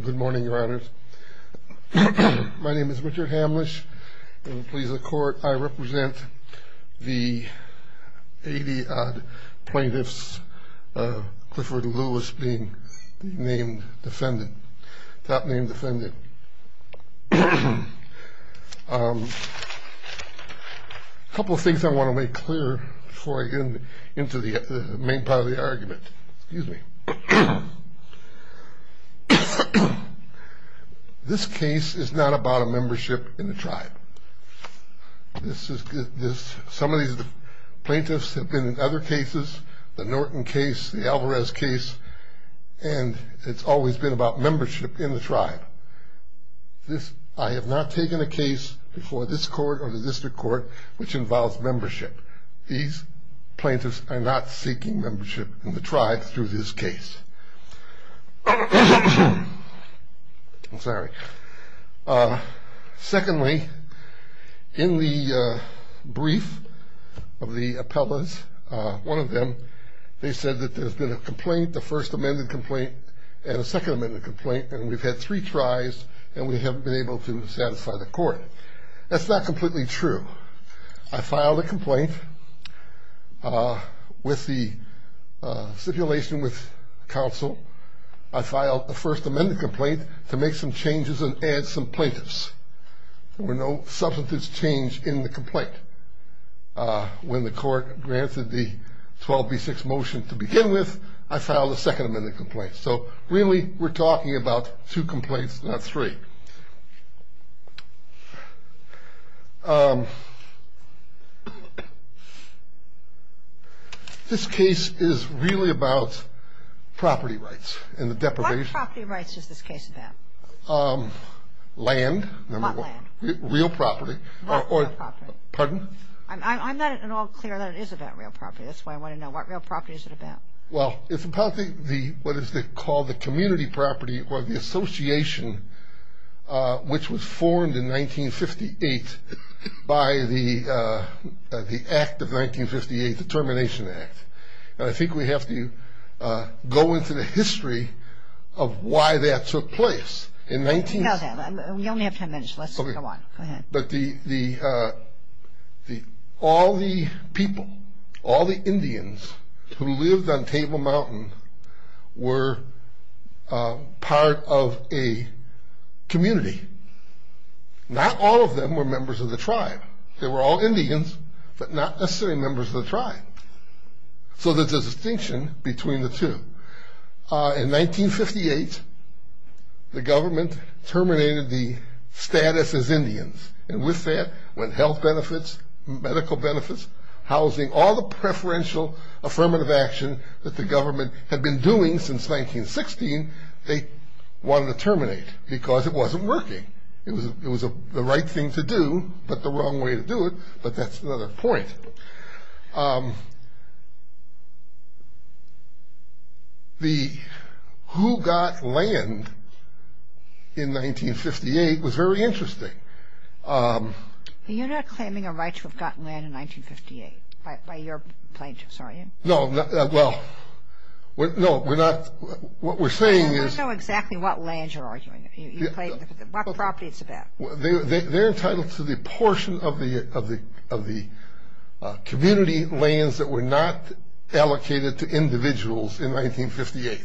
Good morning, your honors. My name is Richard Hamlisch. I represent the 80-odd plaintiffs of Clifford Lewis being named defendant, top name defendant. A couple of things I want to make clear before I get into the main part of the argument. This case is not about a membership in the tribe. Some of these plaintiffs have been in other cases, the Norton case, the Alvarez case, and it's always been about membership in the tribe. I have not taken a case before this court or the district court which involves membership. These plaintiffs are not seeking membership in the tribe through this case. Secondly, in the brief of the appellas, one of them, they said that there's been a complaint, a first amended complaint and a second amended complaint and we've had three tries and we haven't been able to satisfy the court. That's not completely true. I filed a complaint with the stipulation with counsel. I filed a first amended complaint to make some changes and add some plaintiffs. There were no substantive change in the complaint. When the court granted the 12B6 motion to begin with, I filed a second amended complaint. So really we're talking about two complaints, not three. This case is really about property rights and the deprivation. What property rights is this case about? Land. What land? Real property. What real property? Pardon? I'm not at all clear that it is about real property. That's why I want to know. What real property is it about? Well, it's about what is called the community property or the association which was formed in 1958 by the act of 1958, the Termination Act. And I think we have to go into the history of why that took place. We only have ten minutes. Let's go on. Go ahead. But all the people, all the Indians who lived on Table Mountain were part of a community. Not all of them were members of the tribe. They were all Indians, but not necessarily members of the tribe. So there's a distinction between the two. In 1958, the government terminated the status as Indians. And with that went health benefits, medical benefits, housing, all the preferential affirmative action that the government had been doing since 1916, they wanted to terminate because it wasn't working. It was the right thing to do, but the wrong way to do it, but that's another point. The who got land in 1958 was very interesting. You're not claiming a right to have gotten land in 1958 by your plaintiffs, are you? No. Well, no, we're not. What we're saying is... We don't know exactly what land you're arguing. What property it's about. They're entitled to the portion of the community lands that were not allocated to individuals in 1958.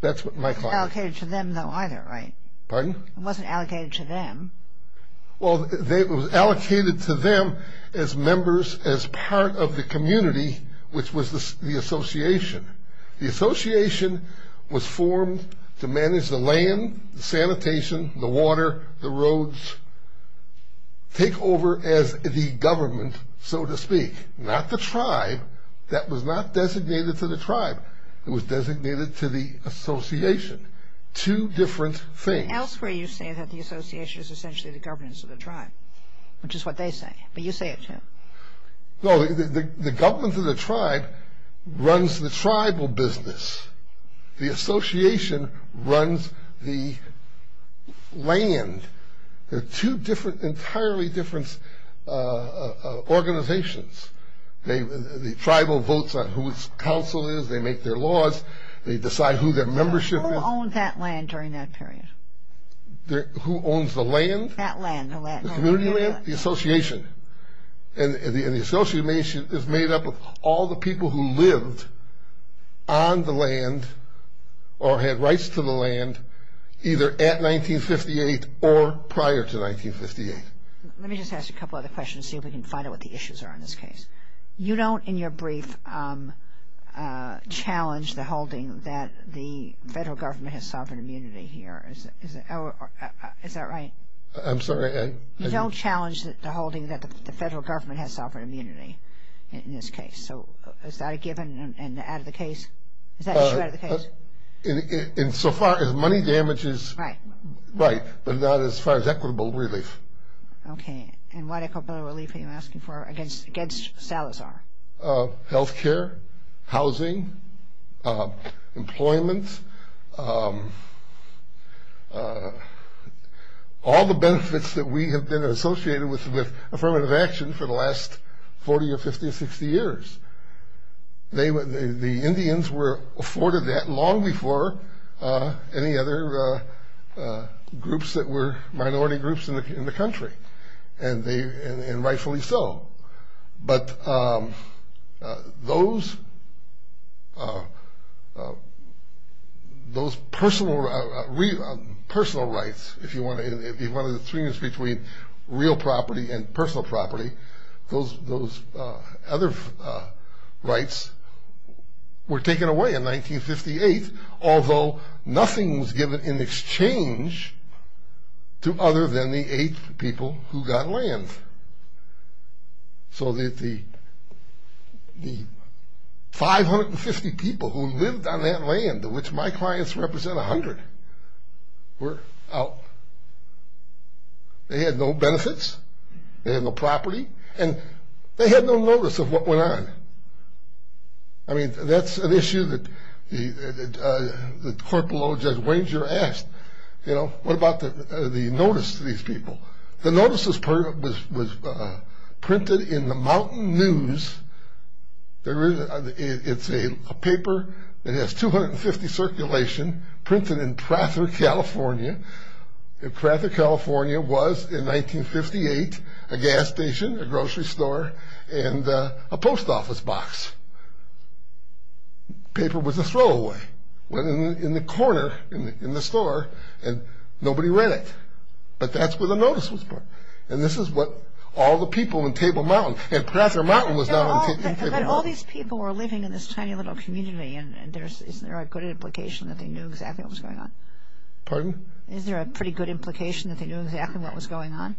That's what my client... It wasn't allocated to them, though, either, right? Pardon? It wasn't allocated to them. Well, it was allocated to them as members, as part of the community, which was the association. The association was formed to manage the land, the sanitation, the water, the roads, take over as the government, so to speak, not the tribe. That was not designated to the tribe. It was designated to the association, two different things. Elsewhere, you say that the association is essentially the governance of the tribe, which is what they say, but you say it, too. No, the governance of the tribe runs the tribal business. The association runs the land. They're two entirely different organizations. The tribal votes on whose council it is. They make their laws. They decide who their membership is. Who owned that land during that period? Who owns the land? That land. The community land? The association. And the association is made up of all the people who lived on the land or had rights to the land either at 1958 or prior to 1958. Let me just ask you a couple other questions, see if we can find out what the issues are in this case. You don't, in your brief, challenge the holding that the federal government has sovereign immunity here. Is that right? I'm sorry? You don't challenge the holding that the federal government has sovereign immunity in this case. So is that a given and out of the case? Is that true out of the case? In so far as money damages. Right. Right, but not as far as equitable relief. Okay. And what equitable relief are you asking for against Salazar? Health care, housing, employment. All the benefits that we have been associated with affirmative action for the last 40 or 50 or 60 years. The Indians were afforded that long before any other groups that were minority groups in the country, and rightfully so. But those personal rights, if you want to, if you want to distinguish between real property and personal property, those other rights were taken away in 1958, although nothing was given in exchange to other than the eight people who got land. So the 550 people who lived on that land, of which my clients represent 100, were out. They had no benefits. They had no property. And they had no notice of what went on. I mean, that's an issue that Corporal Judge Wenger asked, you know, what about the notice to these people? The notice was printed in the Mountain News. It's a paper that has 250 circulation printed in Prather, California. Prather, California was in 1958 a gas station, a grocery store, and a post office box. The paper was a throwaway. It went in the corner in the store, and nobody read it. But that's where the notice was put. And this is what all the people in Table Mountain and Prather Mountain was now in Table Mountain. But all these people were living in this tiny little community, and isn't there a good implication that they knew exactly what was going on? Pardon? Isn't there a pretty good implication that they knew exactly what was going on?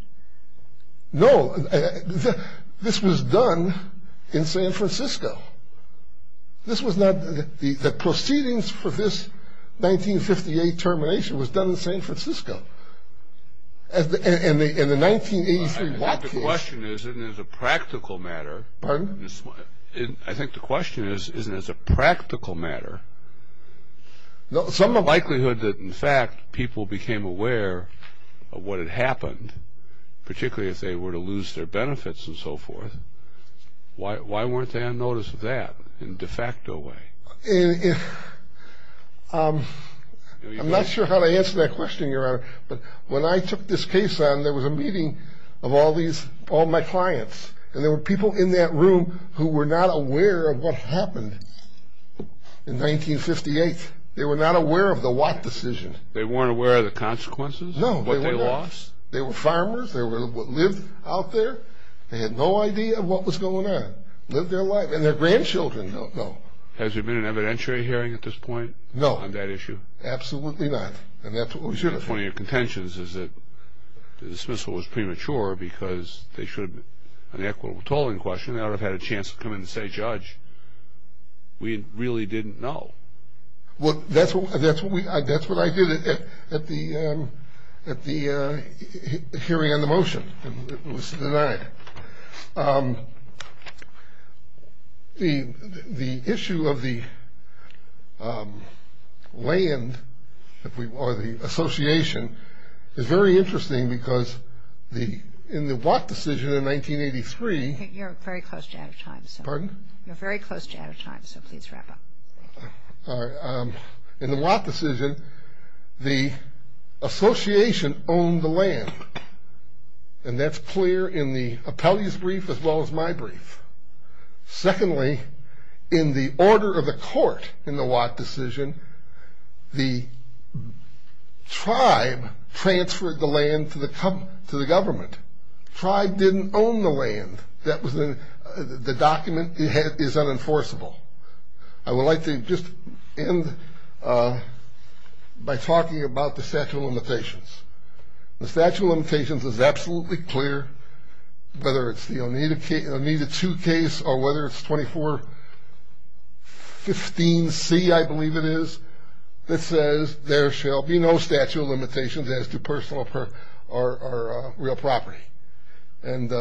No. This was done in San Francisco. This was not the proceedings for this 1958 termination was done in San Francisco. And the 1983 block case. I think the question is, isn't this a practical matter? Pardon? I think the question is, isn't this a practical matter? Some of the likelihood that, in fact, people became aware of what had happened, particularly if they were to lose their benefits and so forth, why weren't they on notice of that in a de facto way? I'm not sure how to answer that question, Your Honor. But when I took this case on, there was a meeting of all my clients, and there were people in that room who were not aware of what happened in 1958. They were not aware of the Watt decision. They weren't aware of the consequences? No. What they lost? They were farmers. They lived out there. They had no idea what was going on, lived their life. And their grandchildren don't know. Has there been an evidentiary hearing at this point? No. On that issue? Absolutely not. And that's what was unifying. The point of your contentions is that the dismissal was premature because they should have been on the equitable tolling question. They ought to have had a chance to come in and say, Judge, we really didn't know. Well, that's what I did at the hearing on the motion. It was denied. The issue of the land or the association is very interesting because in the Watt decision in 1983. You're very close to out of time. Pardon? You're very close to out of time, so please wrap up. All right. And that's clear in the appellee's brief as well as my brief. Secondly, in the order of the court in the Watt decision, the tribe transferred the land to the government. The tribe didn't own the land. The document is unenforceable. I would like to just end by talking about the statute of limitations. The statute of limitations is absolutely clear, whether it's the Oneida 2 case or whether it's 2415C, I believe it is, that says there shall be no statute of limitations as to personal or real property. And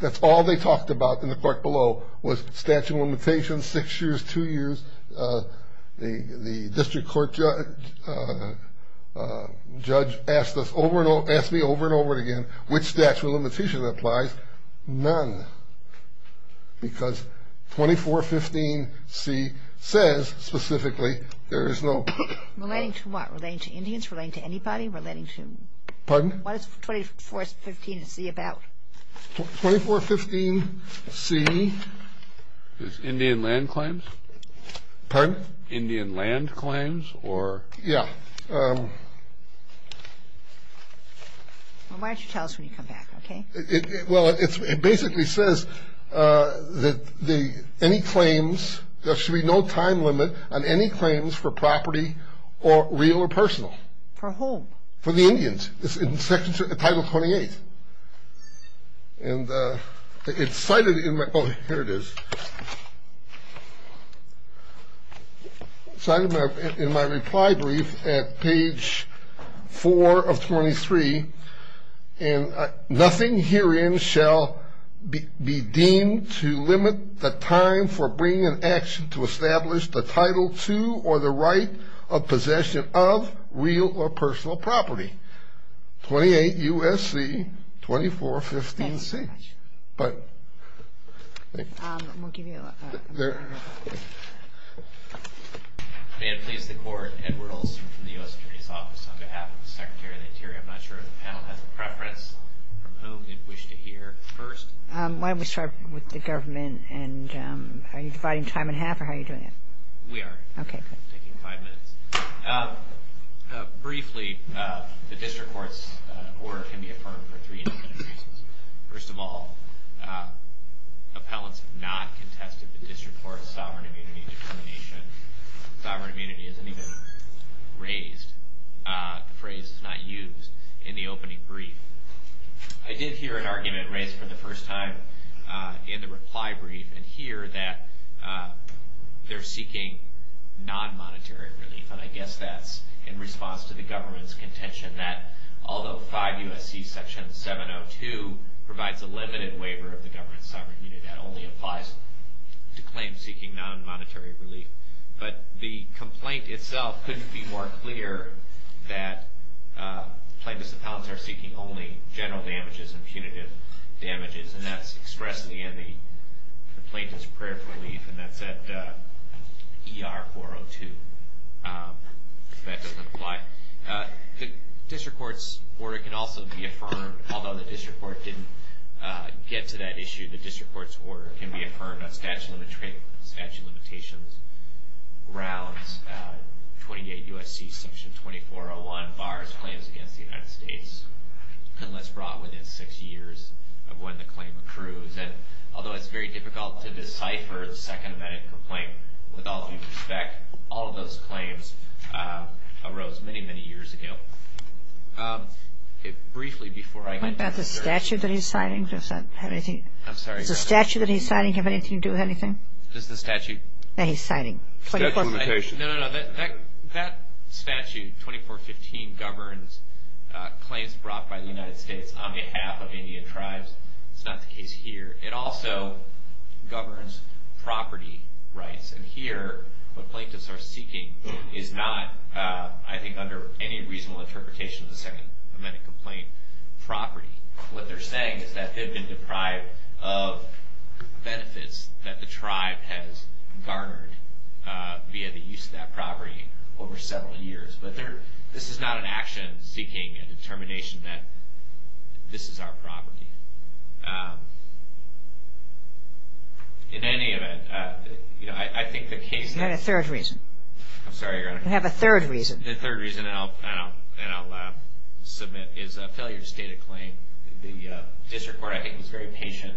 that's all they talked about in the court below was statute of limitations, six years, two years. The district court judge asked me over and over again which statute of limitations applies. None because 2415C says specifically there is no. Relating to what? Relating to Indians? Relating to anybody? Relating to? Pardon? What is 2415C about? 2415C is Indian land claims. Pardon? Indian land claims or? Yeah. Why don't you tell us when you come back, okay? Well, it basically says that any claims, there should be no time limit on any claims for property or real or personal. For whom? For the Indians. It's in section title 28. And it's cited in my, oh, here it is. It's cited in my reply brief at page 4 of 23. And nothing herein shall be deemed to limit the time for bringing in action to establish the title to or the right of possession of real or personal property. 28 U.S.C. 2415C. Thank you very much. But, thank you. We'll give you a minute. May it please the court. Edward Olson from the U.S. Attorney's Office on behalf of the Secretary of the Interior. I'm not sure if the panel has a preference from whom it wished to hear first. Why don't we start with the government and are you dividing time in half or how are you doing it? We are. Okay. Taking five minutes. Briefly, the district court's order can be affirmed for three different reasons. First of all, appellants have not contested the district court's sovereign immunity determination. Sovereign immunity isn't even raised. The phrase is not used in the opening brief. I did hear an argument raised for the first time in the reply brief and hear that they're seeking non-monetary relief. And I guess that's in response to the government's contention that although 5 U.S.C. Section 702 provides a limited waiver of the government's sovereign immunity, that only applies to claims seeking non-monetary relief. But the complaint itself couldn't be more clear that plaintiffs and appellants are seeking only general damages and punitive damages and that's expressed in the end of the plaintiff's prayer for relief and that's at ER 402 if that doesn't apply. The district court's order can also be affirmed. Although the district court didn't get to that issue, the district court's order can be affirmed on statute of limitations grounds 28 U.S.C. Section 2401, bars claims against the United States unless brought within six years of when the claim accrues. And although it's very difficult to decipher the second amendment complaint, with all due respect, all of those claims arose many, many years ago. Briefly before I go. What about the statute that he's signing? Does that have anything? I'm sorry. Does the statute that he's signing have anything to do with anything? Does the statute? That he's signing. Statute of limitation. No, no, no. That statute 2415 governs claims brought by the United States on behalf of Indian tribes. It's not the case here. It also governs property rights and here what plaintiffs are seeking is not, I think under any reasonable interpretation of the second amendment complaint, property. What they're saying is that they've been deprived of benefits that the tribe has garnered via the use of that property over several years. But this is not an action seeking a determination that this is our property. In any event, I think the case. We have a third reason. I'm sorry, Your Honor. We have a third reason. The third reason, and I'll submit, is a failure to state a claim. The district court, I think, was very patient.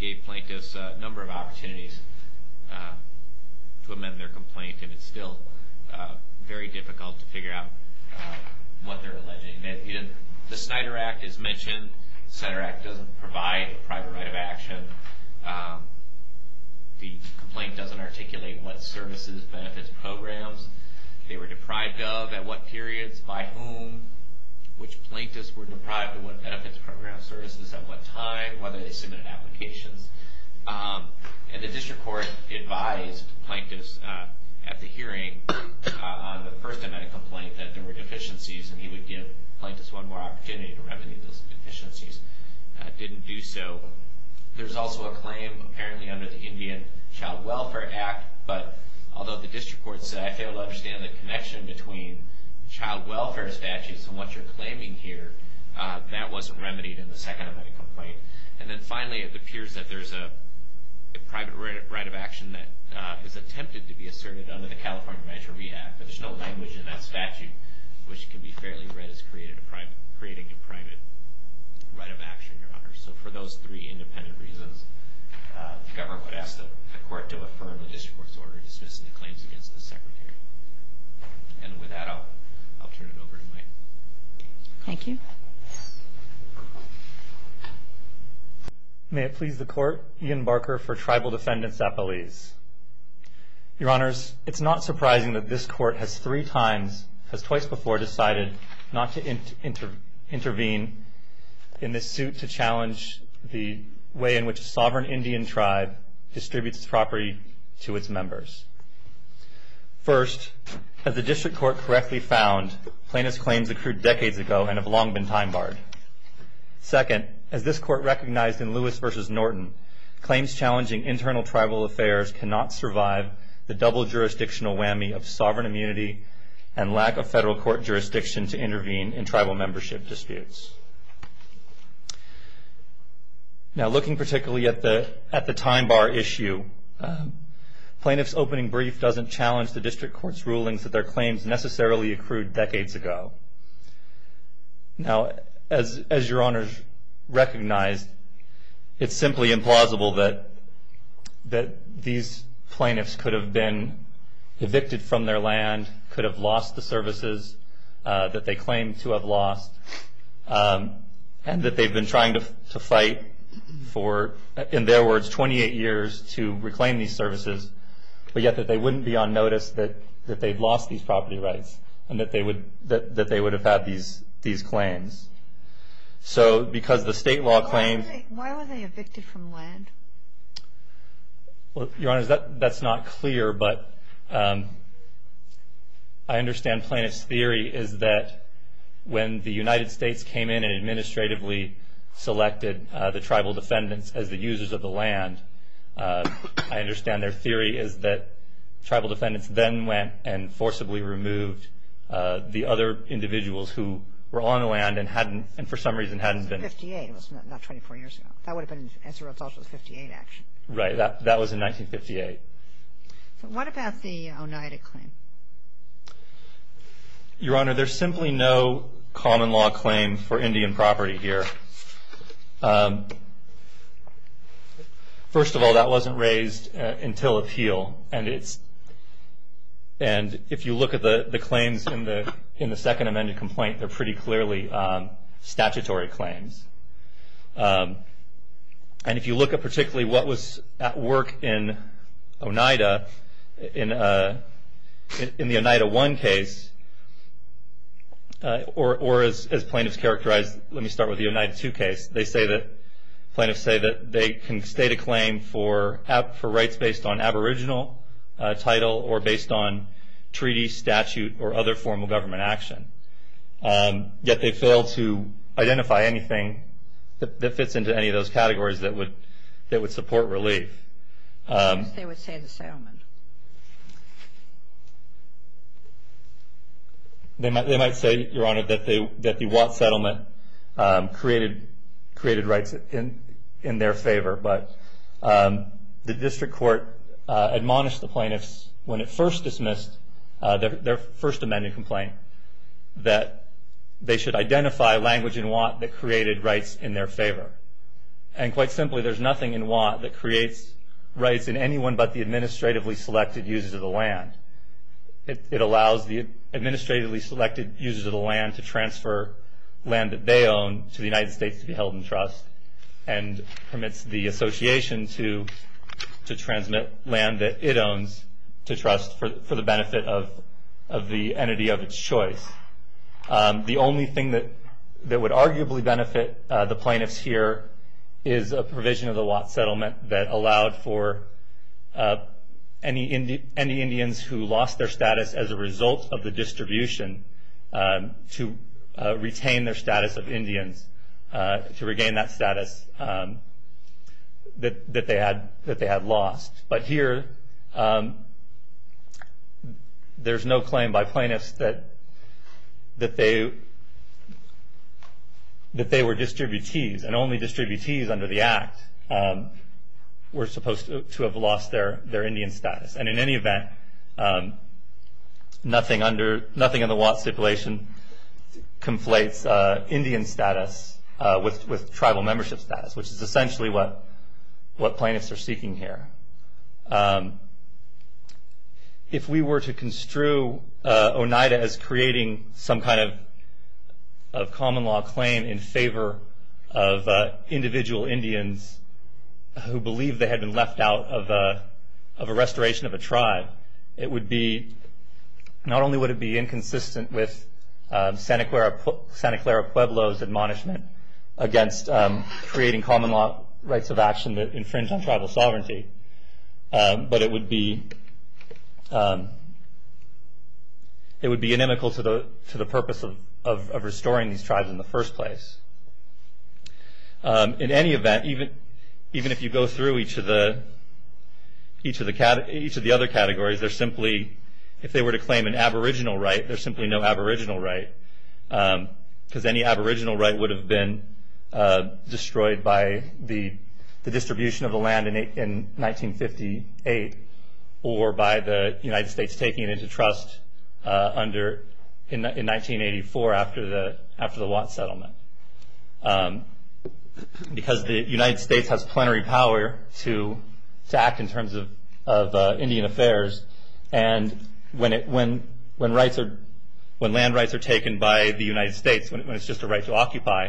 Gave plaintiffs a number of opportunities to amend their complaint and it's still very difficult to figure out what they're alleging. The Snyder Act is mentioned. The Snyder Act doesn't provide a private right of action. The complaint doesn't articulate what services, benefits, programs. They were deprived of at what periods, by whom, which plaintiffs were deprived of what benefits, programs, services, at what time, whether they submitted applications. And the district court advised plaintiffs at the hearing on the first amendment complaint that there were deficiencies and he would give plaintiffs one more opportunity to remedy those deficiencies. Didn't do so. There's also a claim, apparently under the Indian Child Welfare Act, but although the district court said, I fail to understand the connection between child welfare statutes and what you're claiming here, that wasn't remedied in the second amendment complaint. And then finally, it appears that there's a private right of action that was attempted to be asserted under the California Manager Rehab, but there's no language in that statute which can be fairly read as creating a private right of action, Your Honor. So for those three independent reasons, the government would ask the court to affirm the district court's order dismissing the claims against the Secretary. And with that, I'll turn it over to Mike. Thank you. May it please the court, Ian Barker for Tribal Defendants at Belize. Your Honors, it's not surprising that this court has three times, has twice before decided not to intervene in this suit to challenge the way in which a sovereign Indian tribe distributes property to its members. First, as the district court correctly found, plaintiff's claims accrued decades ago and have long been time barred. Second, as this court recognized in Lewis v. Norton, claims challenging internal tribal affairs cannot survive the double jurisdictional whammy of sovereign immunity and lack of federal court jurisdiction to intervene in tribal membership disputes. Now, looking particularly at the time bar issue, plaintiff's opening brief doesn't challenge the district court's rulings that their claims necessarily accrued decades ago. Now, as Your Honors recognized, it's simply implausible that these plaintiffs could have been evicted from their land could have lost the services that they claim to have lost and that they've been trying to fight for, in their words, 28 years to reclaim these services, but yet that they wouldn't be on notice that they'd lost these property rights and that they would have had these claims. So, because the state law claims... Why were they evicted from land? Well, Your Honors, that's not clear, but I understand plaintiff's theory is that when the United States came in and administratively selected the tribal defendants as the users of the land, I understand their theory is that tribal defendants then went and forcibly removed the other individuals who were on the land and for some reason hadn't been... It was 1958, not 24 years ago. That would have been as a result of the 1958 action. Right, that was in 1958. What about the Oneida claim? Your Honor, there's simply no common law claim for Indian property here. First of all, that wasn't raised until appeal, and if you look at the claims in the second amended complaint, they're pretty clearly statutory claims. And if you look at particularly what was at work in Oneida, in the Oneida 1 case, or as plaintiffs characterized... Let me start with the Oneida 2 case. Plaintiffs say that they can state a claim for rights based on aboriginal title or based on treaty, statute, or other form of government action. Yet they fail to identify anything that fits into any of those categories that would support relief. They would say the settlement. They might say, Your Honor, that the Watt settlement created rights in their favor, but the district court admonished the plaintiffs when it first dismissed their first amended complaint that they should identify language in Watt that created rights in their favor. And quite simply, there's nothing in Watt that creates rights in anyone but the administratively selected users of the land. It allows the administratively selected users of the land to transfer land that they own to the United States to be held in trust and permits the association to transmit land that it owns to trust for the benefit of the entity of its choice. The only thing that would arguably benefit the plaintiffs here is a provision of the Watt settlement that allowed for any Indians who lost their status as a result of the distribution to retain their status of Indians, to regain that status that they had lost. But here, there's no claim by plaintiffs that they were distributees, and only distributees under the Act were supposed to have lost their Indian status. And in any event, nothing under the Watt stipulation conflates Indian status with tribal membership status, which is essentially what plaintiffs are seeking here. If we were to construe Oneida as creating some kind of common law claim in favor of individual Indians who believed they had been left out of a restoration of a tribe, not only would it be inconsistent with Santa Clara Pueblo's admonishment against creating common law rights of action that infringed on tribal sovereignty, but it would be inimical to the purpose of restoring these tribes in the first place. In any event, even if you go through each of the other categories, if they were to claim an aboriginal right, there's simply no aboriginal right, because any aboriginal right would have been destroyed by the distribution of the land in 1958, or by the United States taking it into trust in 1984 after the Watt settlement. Because the United States has plenary power to act in terms of Indian affairs, and when land rights are taken by the United States, when it's just a right to occupy,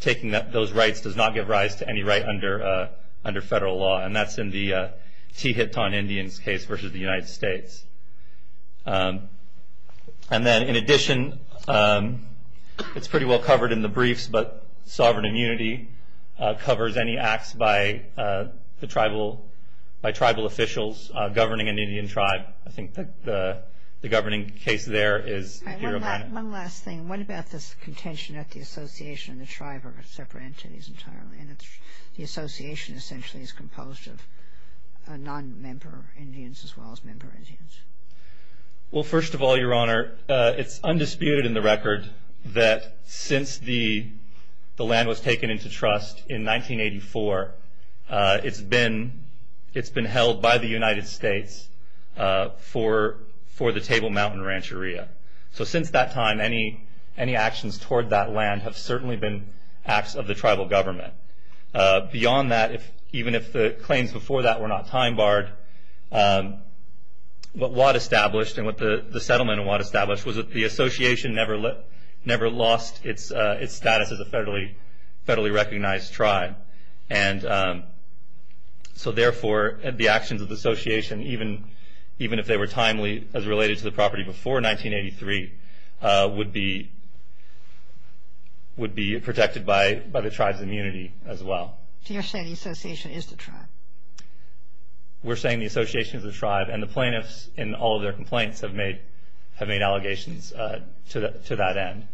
taking those rights does not give rise to any right under federal law, and that's in the Tihetan Indians case versus the United States. And then in addition, it's pretty well covered in the briefs, but sovereign immunity covers any acts by tribal officials governing an Indian tribe. I think the governing case there is... One last thing. What about this contention that the association and the tribe are separate entities entirely, and the association essentially is composed of non-member Indians as well as member Indians? Well, first of all, Your Honor, it's undisputed in the record that since the land was taken into trust in 1984, it's been held by the United States for the Table Mountain Rancheria. So since that time, any actions toward that land have certainly been acts of the tribal government. Beyond that, even if the claims before that were not time-barred, what Watt established and what the settlement of Watt established was that the association never lost its status as a federally recognized tribe, and so therefore the actions of the association, even if they were timely as related to the property before 1983, would be protected by the tribe's immunity as well. So you're saying the association is the tribe? We're saying the association is the tribe, and the plaintiffs in all of their complaints have made allegations to that end.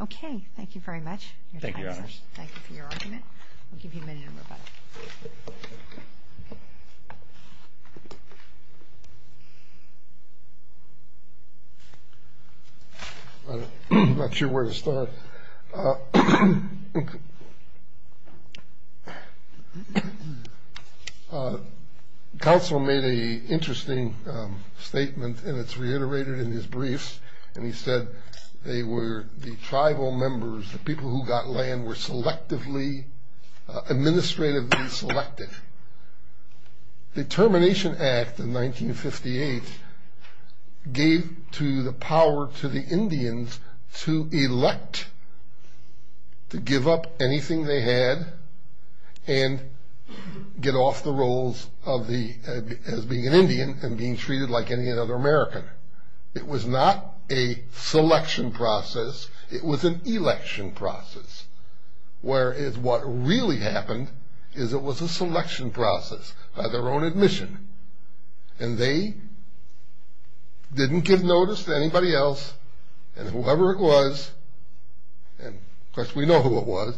Okay. Thank you very much. Thank you, Your Honor. Thank you for your argument. I'll give you a minute, and we'll vote. I'm not sure where to start. Counsel made an interesting statement, and it's reiterated in his briefs, and he said they were the tribal members, the people who got land were selectively, administratively selected. The Termination Act of 1958 gave to the power to the Indians to elect, to give up anything they had and get off the rolls as being an Indian and being treated like any other American. It was not a selection process. It was an election process, whereas what really happened is it was a selection process by their own admission, and they didn't give notice to anybody else, and whoever it was, and of course we know who it was,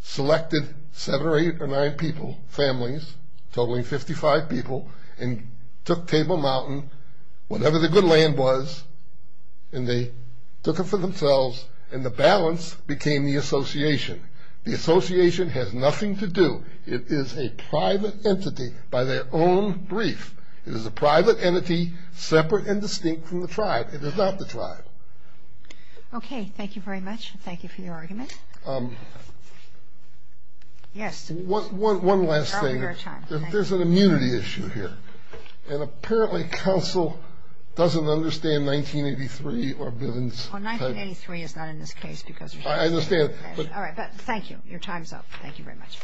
selected seven or eight or nine people, families, totaling 55 people, and took Table Mountain, whatever the good land was, and they took it for themselves, and the balance became the association. The association has nothing to do. It is a private entity by their own brief. It is a private entity separate and distinct from the tribe. It is not the tribe. Okay. Thank you very much, and thank you for your argument. Yes. One last thing. There's an immunity issue here, and apparently counsel doesn't understand 1983 or Billings. Well, 1983 is not in this case because we're here. I understand. All right, but thank you. Your time's up. Thank you very much.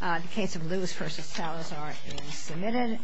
The case of Lewis v. Salazar is submitted.